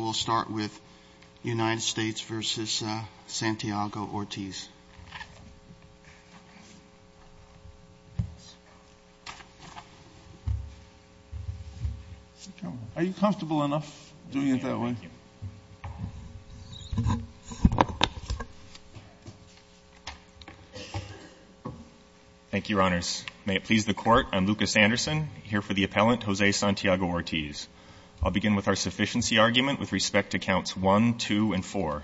will start with United States v. Santiago-Ortiz. Are you comfortable enough doing it that way? Thank you, Your Honors. May it please the Court, I'm Lucas Anderson, here for the appellant Jose Santiago-Ortiz. I'll begin with our sufficiency argument with respect to counts 1, 2, and 4.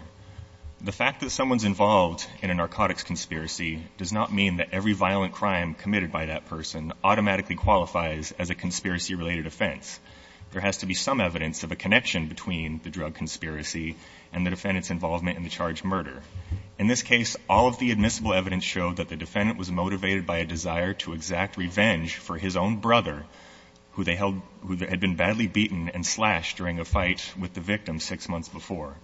The fact that someone's involved in a narcotics conspiracy does not mean that every violent crime committed by that person automatically qualifies as a conspiracy-related offense. There has to be some evidence of a connection between the drug conspiracy and the defendant's involvement in the charged murder. In this case, all of the admissible evidence showed that the defendant was motivated by a desire to exact revenge for his own brother, who they held – who had been badly beaten and slashed during a fight with the victim six months before.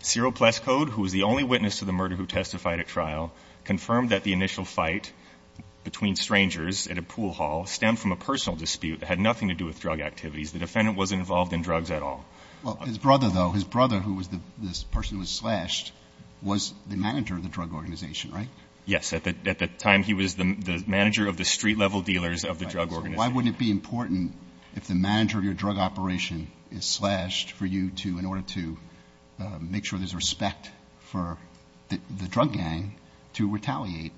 Serial plus code, who was the only witness to the murder who testified at trial, confirmed that the initial fight between strangers at a pool hall stemmed from a personal dispute that had nothing to do with drug activities. The defendant wasn't involved in drugs at all. Well, his brother, though, his brother, who was the person who was slashed, was the manager of the drug organization, right? Yes. At the time, he was the manager of the street-level dealers of the drug organization. So why wouldn't it be important if the manager of your drug operation is slashed for you to – in order to make sure there's respect for the drug gang to retaliate?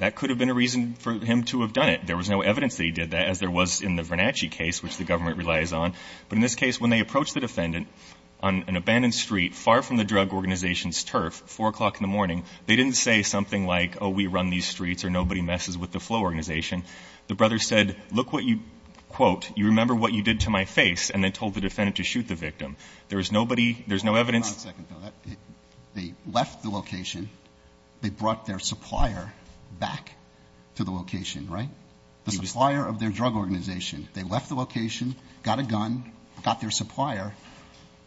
That could have been a reason for him to have done it. There was no evidence that he did that, as there was in the Vernacci case, which the government relies on. But in this case, when they approached the defendant on an abandoned street far from the drug organization's turf, 4 o'clock in the morning, they didn't say something like, oh, we run these streets or nobody messes with the flow organization. The brother said, look what you – quote, you remember what you did to my face, and then told the defendant to shoot the victim. There was nobody – there's no evidence – Hold on a second, Phil. They left the location. They brought their supplier back to the location, right? The supplier of their drug organization. They left the location, got a gun, got their supplier,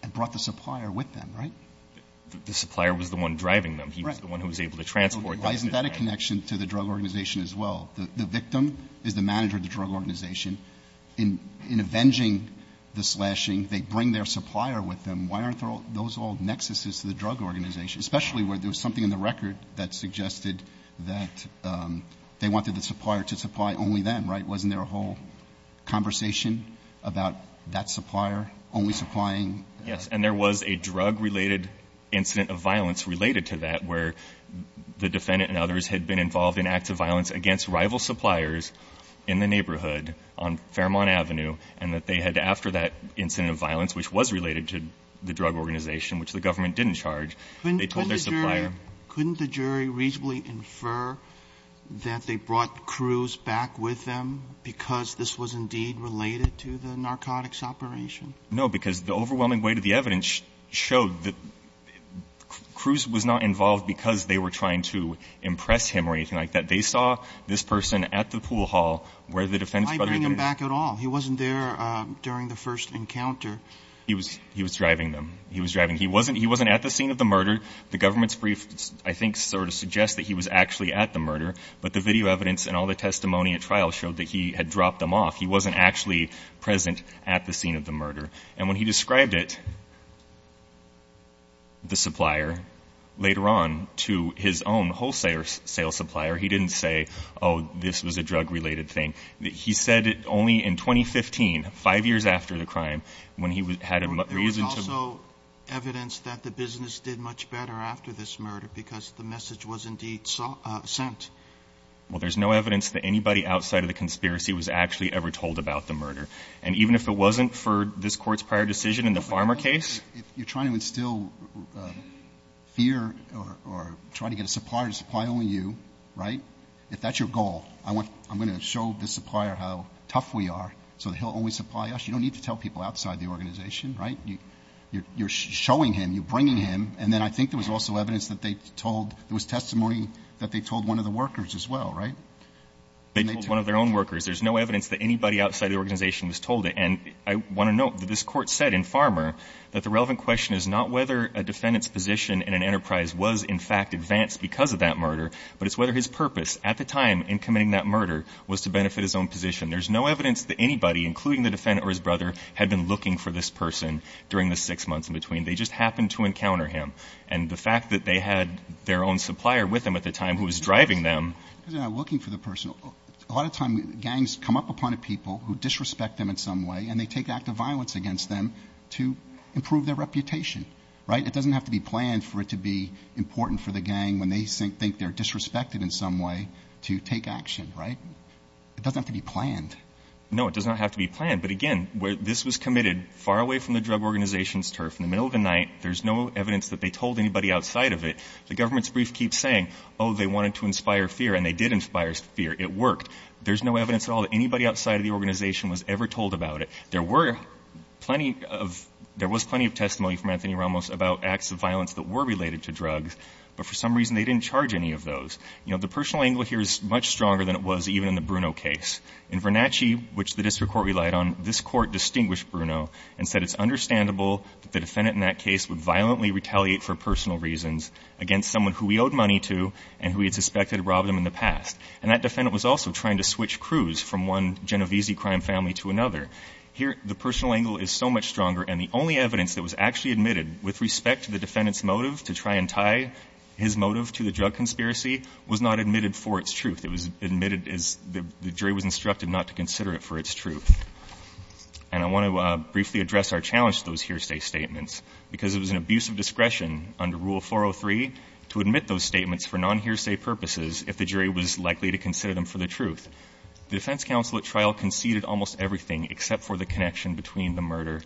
and brought the supplier with them, right? The supplier was the one driving them. Right. He was the one who was able to transport them. Isn't that a connection to the drug organization as well? The victim is the manager of the drug organization. In avenging the slashing, they bring their supplier with them. Why aren't those all nexuses to the drug organization, especially where there was something in the record that suggested that they wanted the supplier to supply only them, right? Wasn't there a whole conversation about that supplier only supplying? Yes. And there was a drug-related incident of violence related to that, where the defendant and others had been involved in acts of violence against rival suppliers in the neighborhood on Fairmont Avenue, and that they had, after that incident of violence, which was related to the drug organization, which the government didn't charge, they told their supplier – Because this was indeed related to the narcotics operation? No, because the overwhelming weight of the evidence showed that Cruz was not involved because they were trying to impress him or anything like that. They saw this person at the pool hall where the defendant's brother – Why bring him back at all? He wasn't there during the first encounter. He was driving them. He was driving – he wasn't at the scene of the murder. The government's brief, I think, sort of suggests that he was actually at the murder, but the video evidence and all the testimony at trial showed that he had dropped them off. He wasn't actually present at the scene of the murder. And when he described it, the supplier, later on to his own wholesale supplier, he didn't say, oh, this was a drug-related thing. He said it only in 2015, five years after the crime, when he had a reason to – There was also evidence that the business did much better after this murder because the message was indeed sent. Well, there's no evidence that anybody outside of the conspiracy was actually ever told about the murder. And even if it wasn't for this Court's prior decision in the Farmer case – You're trying to instill fear or try to get a supplier to supply only you, right? If that's your goal, I'm going to show the supplier how tough we are so that he'll only supply us. You don't need to tell people outside the organization, right? You're showing him. You're bringing him. And then I think there was also evidence that they told – there was testimony that they told one of the workers as well, right? They told one of their own workers. There's no evidence that anybody outside the organization was told. And I want to note that this Court said in Farmer that the relevant question is not whether a defendant's position in an enterprise was, in fact, advanced because of that murder, but it's whether his purpose at the time in committing that murder was to benefit his own position. There's no evidence that anybody, including the defendant or his brother, had been looking for this person during the six months in between. They just happened to encounter him. And the fact that they had their own supplier with them at the time who was driving them. Because they're not looking for the person. A lot of times gangs come up upon a people who disrespect them in some way, and they take active violence against them to improve their reputation, right? It doesn't have to be planned for it to be important for the gang, when they think they're disrespected in some way, to take action, right? It doesn't have to be planned. No, it does not have to be planned. But again, this was committed far away from the drug organization's turf. In the middle of the night, there's no evidence that they told anybody outside of it. The government's brief keeps saying, oh, they wanted to inspire fear, and they did inspire fear. It worked. There's no evidence at all that anybody outside of the organization was ever told about it. There were plenty of – there was plenty of testimony from Anthony Ramos about acts of violence that were related to drugs, but for some reason they didn't charge any of those. You know, the personal angle here is much stronger than it was even in the Bruno case. In Vernacci, which the district court relied on, this court distinguished Bruno and said it's understandable that the defendant in that case would violently retaliate for personal reasons against someone who he owed money to and who he had suspected robbed him in the past. And that defendant was also trying to switch crews from one Genovese crime family to another. Here, the personal angle is so much stronger, and the only evidence that was actually admitted with respect to the defendant's motive to try and tie his motive to the drug conspiracy was not admitted for its truth. It was admitted as – the jury was instructed not to consider it for its truth. And I want to briefly address our challenge to those hearsay statements, because it was an abuse of discretion under Rule 403 to admit those statements for non-hearsay purposes if the jury was likely to consider them for the truth. The defense counsel at trial conceded almost everything except for the connection between the murder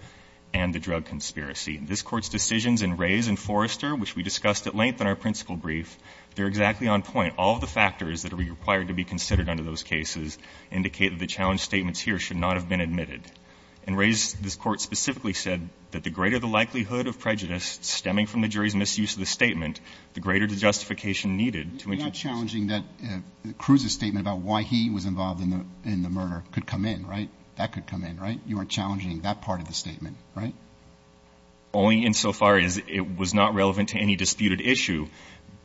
and the drug conspiracy. This Court's decisions in Rays and Forrester, which we discussed at length in our principal brief, they're exactly on point. All of the factors that are required to be considered under those cases indicate that the challenge statements here should not have been admitted. In Rays, this Court specifically said that the greater the likelihood of prejudice stemming from the jury's misuse of the statement, the greater the justification needed to – You're not challenging that Cruz's statement about why he was involved in the murder could come in, right? That could come in, right? You aren't challenging that part of the statement, right? Only insofar as it was not relevant to any disputed issue,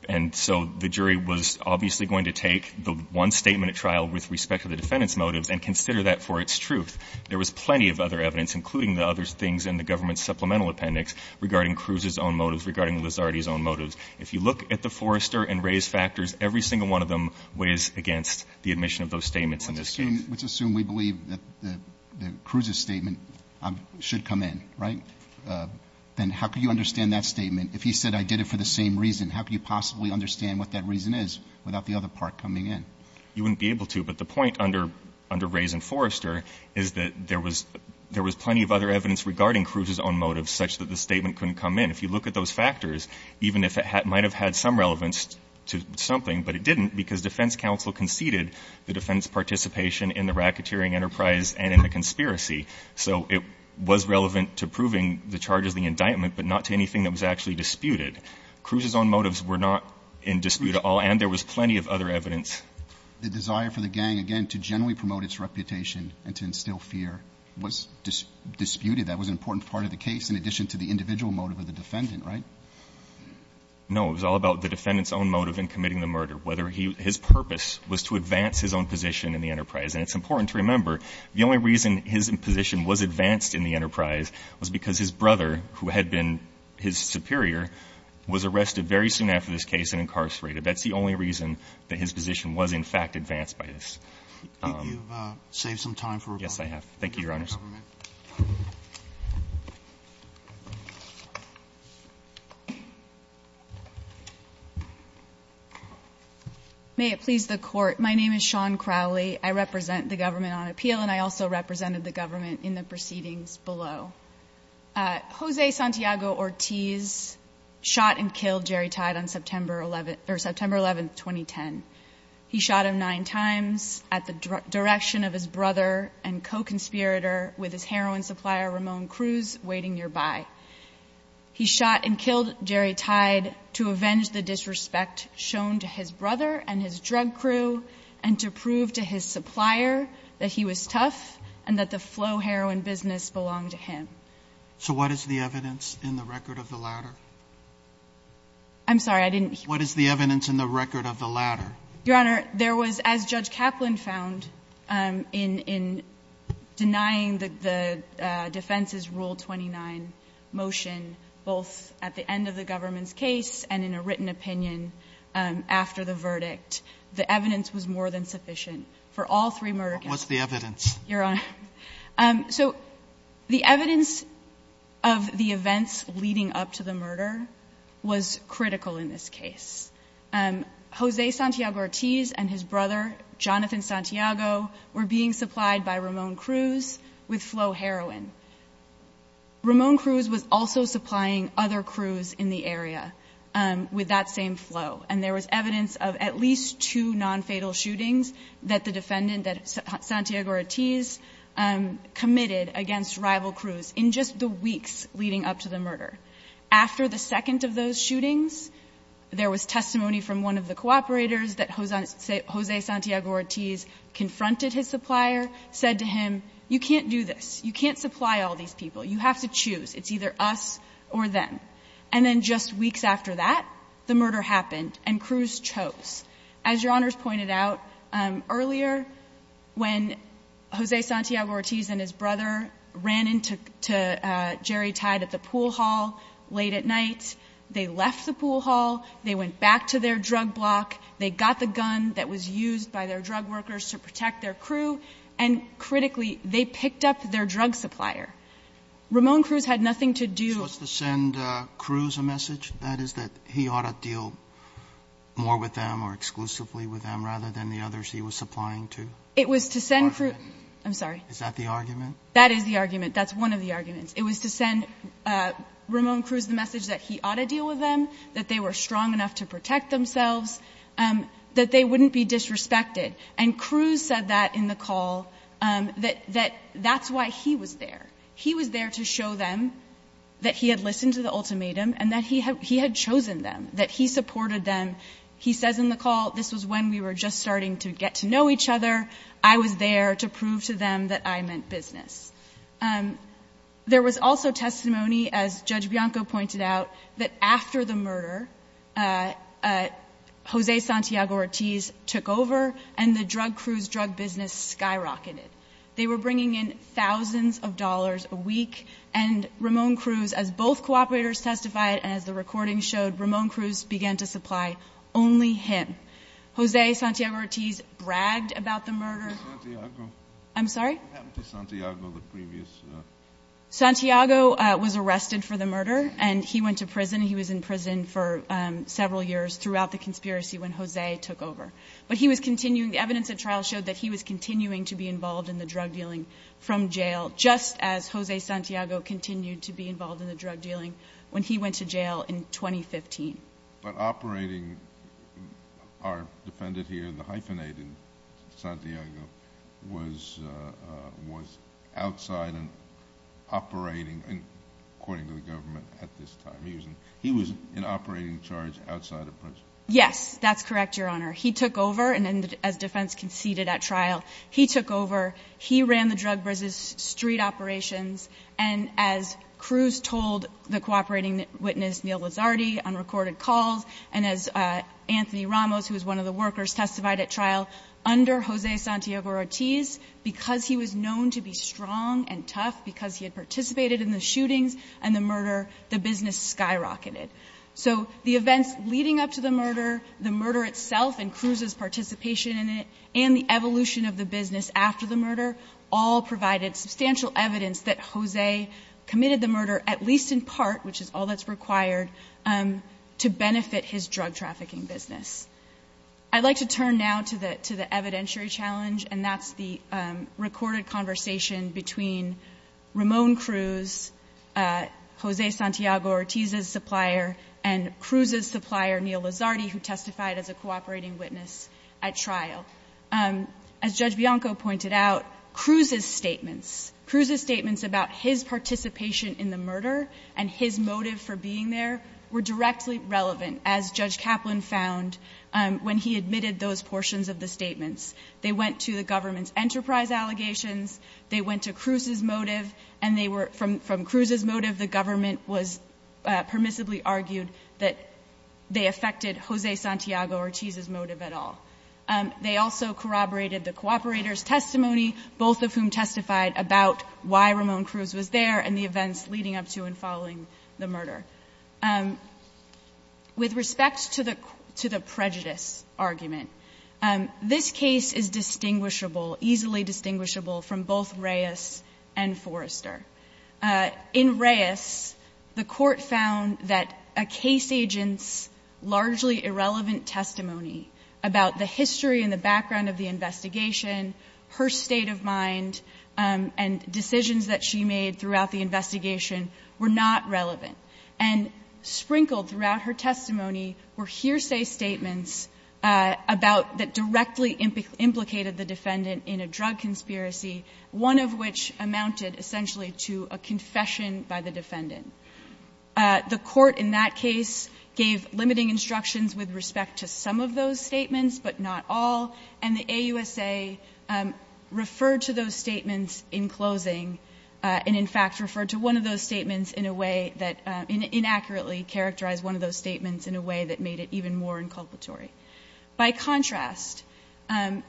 and so the jury was obviously going to take the one statement at trial with respect to the defendant's motives and consider that for its truth. There was plenty of other evidence, including the other things in the government's supplemental appendix regarding Cruz's own motives, regarding Lizardi's own motives. If you look at the Forrester and Rays factors, every single one of them weighs against the admission of those statements in this case. Let's assume we believe that Cruz's statement should come in, right? Then how could you understand that statement? If he said, I did it for the same reason, how could you possibly understand what that reason is without the other part coming in? You wouldn't be able to, but the point under Rays and Forrester is that there was plenty of other evidence regarding Cruz's own motives such that the statement couldn't come in. If you look at those factors, even if it might have had some relevance to something, but it didn't because defense counsel conceded the defense participation in the racketeering enterprise and in the conspiracy. So it was relevant to proving the charges of the indictment, but not to anything that was actually disputed. Cruz's own motives were not in dispute at all, and there was plenty of other evidence. The desire for the gang, again, to generally promote its reputation and to instill fear was disputed. That was an important part of the case in addition to the individual motive of the defendant, right? No. It was all about the defendant's own motive in committing the murder, whether his purpose was to advance his own position in the enterprise. And it's important to remember, the only reason his position was advanced in the enterprise was because his brother, who had been his superior, was arrested very soon after this case and incarcerated. That's the only reason that his position was, in fact, advanced by this. Do you think you've saved some time for rebuttal? Yes, I have. Thank you, Your Honors. May it please the Court. My name is Shawn Crowley. I represent the government on appeal, and I also represented the government in the proceedings below. Jose Santiago Ortiz shot and killed Jerry Tide on September 11th 2010. He shot him nine times at the direction of his brother and co-conspirator with his heroin supplier, Ramon Cruz, waiting nearby. He shot and killed Jerry Tide to avenge the disrespect shown to his brother and his drug crew and to prove to his supplier that he was tough and that the flow heroin business belonged to him. So what is the evidence in the record of the latter? I'm sorry, I didn't hear you. What is the evidence in the record of the latter? Your Honor, there was, as Judge Kaplan found in denying the defense's Rule 29 motion both at the end of the government's case and in a written opinion after the verdict, the evidence was more than sufficient for all three murder cases. What was the evidence? Your Honor, so the evidence of the events leading up to the murder was critical in this case. Jose Santiago Ortiz and his brother, Jonathan Santiago, were being supplied by Ramon Cruz with flow heroin. Ramon Cruz was also supplying other crews in the area with that same flow. And there was evidence of at least two non-fatal shootings that the defendant, Santiago Ortiz, committed against rival crews in just the weeks leading up to the murder. After the second of those shootings, there was testimony from one of the cooperators that Jose Santiago Ortiz confronted his supplier, said to him, you can't do this. You can't supply all these people. You have to choose. It's either us or them. And then just weeks after that, the murder happened and Cruz chose. And then Ramon Cruz, his brother, ran in to Jerry Tide at the pool hall late at night. They left the pool hall. They went back to their drug block. They got the gun that was used by their drug workers to protect their crew. And critically, they picked up their drug supplier. Ramon Cruz had nothing to do to do. Was to send Cruz a message that is that he ought to deal more with them or exclusively with them rather than the others he was supplying to? It was to send for. I'm sorry. Is that the argument? That is the argument. That's one of the arguments. It was to send Ramon Cruz the message that he ought to deal with them, that they were strong enough to protect themselves, that they wouldn't be disrespected. And Cruz said that in the call, that that's why he was there. He was there to show them that he had listened to the ultimatum and that he had chosen them, that he supported them. He says in the call, this was when we were just starting to get to know each other. I was there to prove to them that I meant business. There was also testimony, as Judge Bianco pointed out, that after the murder, Jose Santiago-Ortiz took over and the drug crew's drug business skyrocketed. They were bringing in thousands of dollars a week, and Ramon Cruz, as both cooperators testified and as the recording showed, Ramon Cruz began to supply only him. Jose Santiago-Ortiz bragged about the murder. Who's Santiago? I'm sorry? Who happened to Santiago, the previous? Santiago was arrested for the murder, and he went to prison. He was in prison for several years throughout the conspiracy when Jose took over. But he was continuing. The evidence at trial showed that he was continuing to be involved in the drug dealing from jail, just as Jose Santiago continued to be involved in the drug dealing when he went to jail in 2015. But operating our defendant here, the hyphenated Santiago, was outside and operating, according to the government, at this time. He was in operating charge outside of prison. Yes, that's correct, Your Honor. He took over, and as defense conceded at trial, he took over. He ran the drug business street operations, and as Cruz told the cooperating witness, Neal Lizardi, on recorded calls, and as Anthony Ramos, who was one of the workers, testified at trial, under Jose Santiago-Ortiz, because he was known to be strong and tough, because he had participated in the shootings and the murder, the business skyrocketed. So the events leading up to the murder, the murder itself and Cruz's participation in it, and the evolution of the business after the murder, all provided substantial evidence that Jose committed the murder, at least in part, which is all that's required, to benefit his drug trafficking business. I'd like to turn now to the evidentiary challenge, and that's the recorded conversation between Ramon Cruz, Jose Santiago-Ortiz's supplier, and Cruz's supplier, Neal Lizardi, who testified as a cooperating witness at trial. As Judge Bianco pointed out, Cruz's statements, Cruz's statements about his participation in the murder and his motive for being there, were directly relevant, as Judge Kaplan found when he admitted those portions of the statements. They went to the government's enterprise allegations. They went to Cruz's motive, and they were, from Cruz's motive, the government was permissibly argued that they affected Jose Santiago-Ortiz's motive at all. They also corroborated the cooperator's testimony, both of whom testified about why Ramon Cruz was there and the events leading up to and following the murder. With respect to the prejudice argument, this case is distinguishable, easily distinguishable from both Reyes and Forrester. In Reyes, the Court found that a case agent's largely irrelevant testimony about the history and the background of the investigation, her state of mind, and decisions that she made throughout the investigation were not relevant. And sprinkled throughout her testimony were hearsay statements about the directly implicated the defendant in a drug conspiracy, one of which amounted essentially to a confession by the defendant. The Court in that case gave limiting instructions with respect to some of those statements, but not all. And the AUSA referred to those statements in closing and, in fact, referred to one of those statements in a way that inaccurately characterized one of those statements in a way that made it even more inculpatory. By contrast, as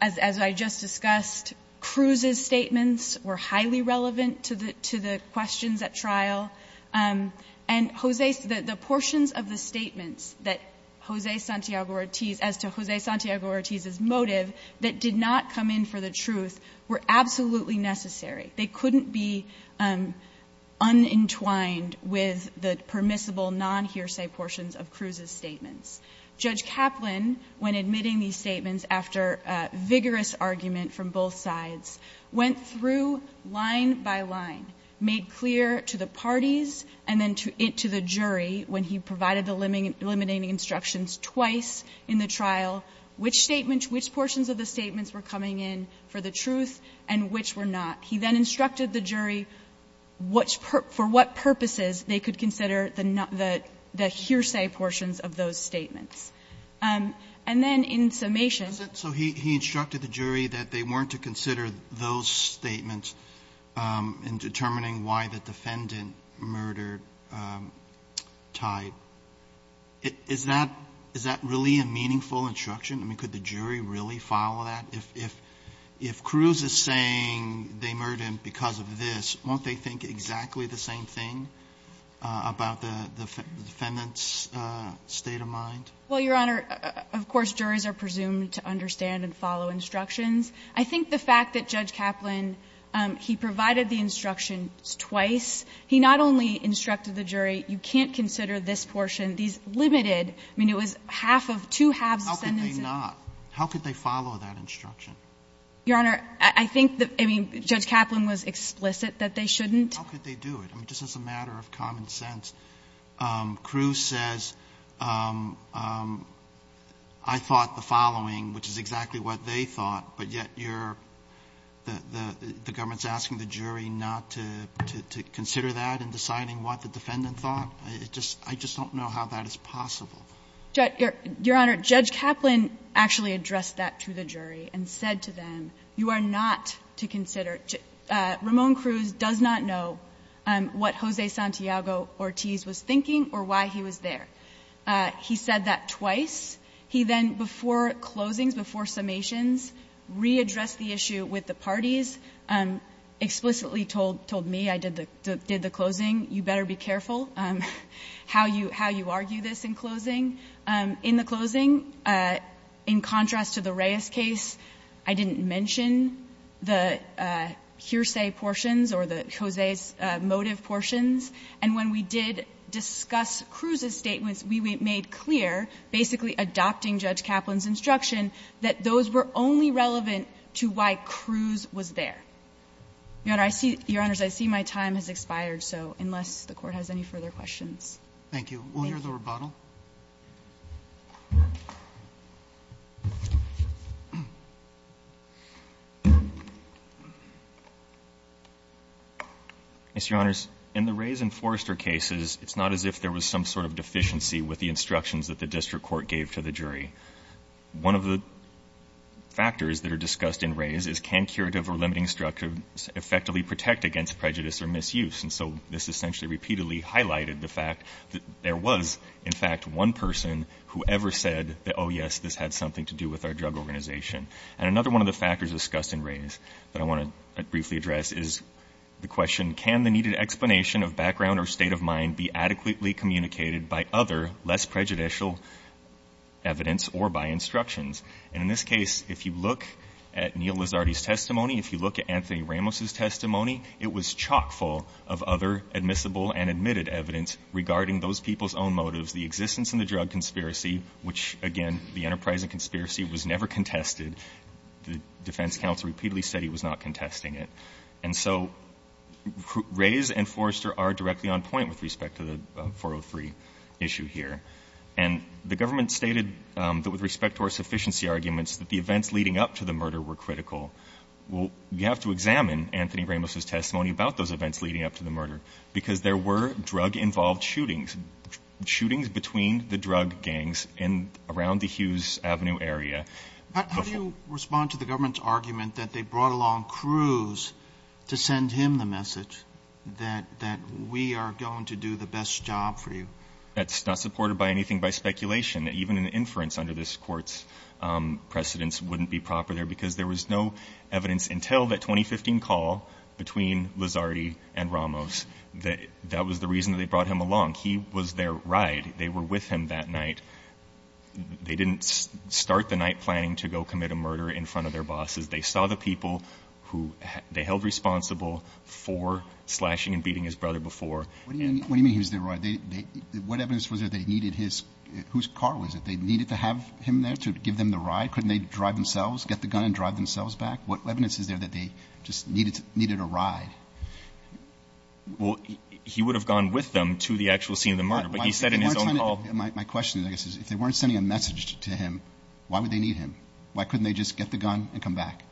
I just discussed, Cruz's statements were highly relevant to the questions at trial, and the portions of the statements that Jose Santiago-Ortiz, as to Jose Santiago-Ortiz's motive, that did not come in for the truth were absolutely necessary. They couldn't be unentwined with the permissible non-hearsay portions of Cruz's statements. Judge Kaplan, when admitting these statements after a vigorous argument from both sides, went through line by line, made clear to the parties and then to the jury when he provided the limiting instructions twice in the trial, which statements, which portions of the statements were coming in for the truth and which were not. He then instructed the jury for what purposes they could consider the hearsay portions of those statements. And then in summation he instructed the jury that they weren't to consider those statements in determining why the defendant murdered Tide. Is that really a meaningful instruction? I mean, could the jury really follow that? If Cruz is saying they murdered him because of this, won't they think exactly the same thing about the defendant's state of mind? Well, Your Honor, of course, juries are presumed to understand and follow instructions. I think the fact that Judge Kaplan, he provided the instructions twice. He not only instructed the jury, you can't consider this portion, these limited – I mean, it was half of two halves of sentences. How could they not? How could they follow that instruction? Your Honor, I think that, I mean, Judge Kaplan was explicit that they shouldn't. But how could they do it? I mean, just as a matter of common sense, Cruz says, I thought the following, which is exactly what they thought, but yet you're – the government's asking the jury not to consider that in deciding what the defendant thought? I just don't know how that is possible. Your Honor, Judge Kaplan actually addressed that to the jury and said to them, you are not to consider. Ramon Cruz does not know what Jose Santiago-Ortiz was thinking or why he was there. He said that twice. He then, before closings, before summations, readdressed the issue with the parties, explicitly told me, I did the closing, you better be careful how you argue this in closing. In the closing, in contrast to the Reyes case, I didn't mention the hearsay portions or the Jose's motive portions. And when we did discuss Cruz's statements, we made clear, basically adopting Judge Kaplan's instruction, that those were only relevant to why Cruz was there. Your Honor, I see – Your Honors, I see my time has expired, so unless the Court has any further questions. Roberts. Thank you. Will you hear the rebuttal? Yes, Your Honors. In the Reyes and Forrester cases, it's not as if there was some sort of deficiency with the instructions that the district court gave to the jury. One of the factors that are discussed in Reyes is, can curative or limiting structure effectively protect against prejudice or misuse? And so, this essentially repeatedly highlighted the fact that there was, in fact, one person who ever said that, oh, yes, this had something to do with our drug organization. And another one of the factors discussed in Reyes that I want to briefly address is the question, can the needed explanation of background or state of mind be adequately communicated by other, less prejudicial evidence or by instructions? And in this case, if you look at Neil Lizardi's testimony, if you look at Anthony Ramos' testimony, it was chock full of other admissible and admitted evidence regarding those people's own motives, the existence and the drug conspiracy, which, again, the enterprise and conspiracy was never contested. The defense counsel repeatedly said he was not contesting it. And so Reyes and Forrester are directly on point with respect to the 403 issue here. And the government stated that with respect to our sufficiency arguments, that the events leading up to the murder were critical. Well, you have to examine Anthony Ramos' testimony about those events leading up to the murder, because there were drug-involved shootings, shootings between the drug gangs and around the Hughes Avenue area. But how do you respond to the government's argument that they brought along Cruz to send him the message that we are going to do the best job for you? That's not supported by anything by speculation. Even an inference under this Court's precedence wouldn't be proper there, because there was no evidence until that 2015 call between Lizardi and Ramos that that was the reason they brought him along. He was their ride. They were with him that night. They didn't start the night planning to go commit a murder in front of their bosses. They saw the people who they held responsible for slashing and beating his brother before. What do you mean he was their ride? What evidence was there that they needed his, whose car was it? They needed to have him there to give them the ride? Couldn't they drive themselves, get the gun and drive themselves back? What evidence is there that they just needed a ride? Well, he would have gone with them to the actual scene of the murder, but he said in his own call... My question, I guess, is if they weren't sending a message to him, why would they need him? Why couldn't they just get the gun and come back?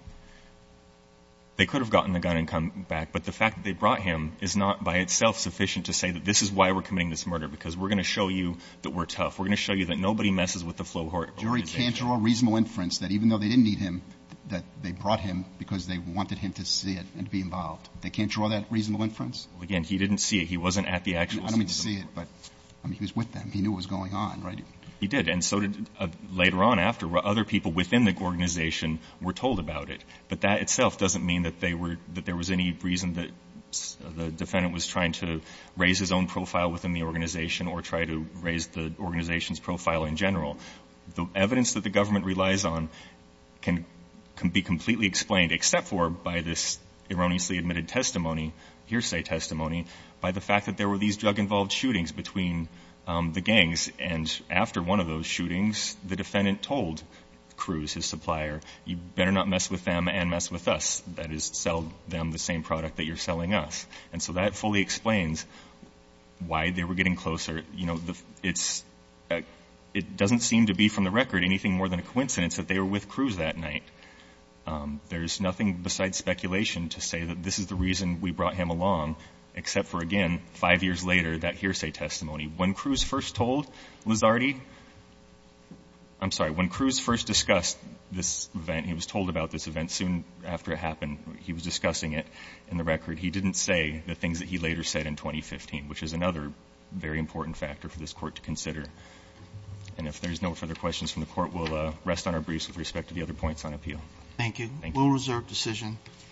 They could have gotten the gun and come back, but the fact that they brought him is not by itself sufficient to say that this is why we're committing this murder, because we're going to show you that we're tough. We're going to show you that nobody messes with the flow of organization. The jury can't draw a reasonable inference that even though they didn't need him, that they brought him because they wanted him to see it and be involved. They can't draw that reasonable inference? Well, again, he didn't see it. He wasn't at the actual scene of the murder. I don't mean to say it, but, I mean, he was with them. He knew what was going on, right? He did, and so did later on after, where other people within the organization were told about it, but that itself doesn't mean that they were, that there was any reason that the defendant was trying to raise his own profile within the organization or try to raise the organization's profile in general. The evidence that the government relies on can be completely explained, except for by this erroneously admitted testimony, hearsay testimony, by the fact that there were these drug-involved shootings between the gangs, and after one of those shootings, the defendant told Cruz, his supplier, you better not mess with them and mess with us. That is, sell them the same product that you're selling us. And so that fully explains why they were getting closer. You know, it's, it doesn't seem to be from the record anything more than a coincidence that they were with Cruz that night. There's nothing besides speculation to say that this is the reason we brought him along, except for, again, five years later, that hearsay testimony. When Cruz first told Lizardi, I'm sorry, when Cruz first discussed this event, he was told about this event soon after it happened, he was discussing it in the record, he didn't say the things that he later said in 2015, which is another very important factor for this court to consider. And if there's no further questions from the court, we'll rest on our briefs with respect to the other points on appeal. Thank you. We'll reserve decision.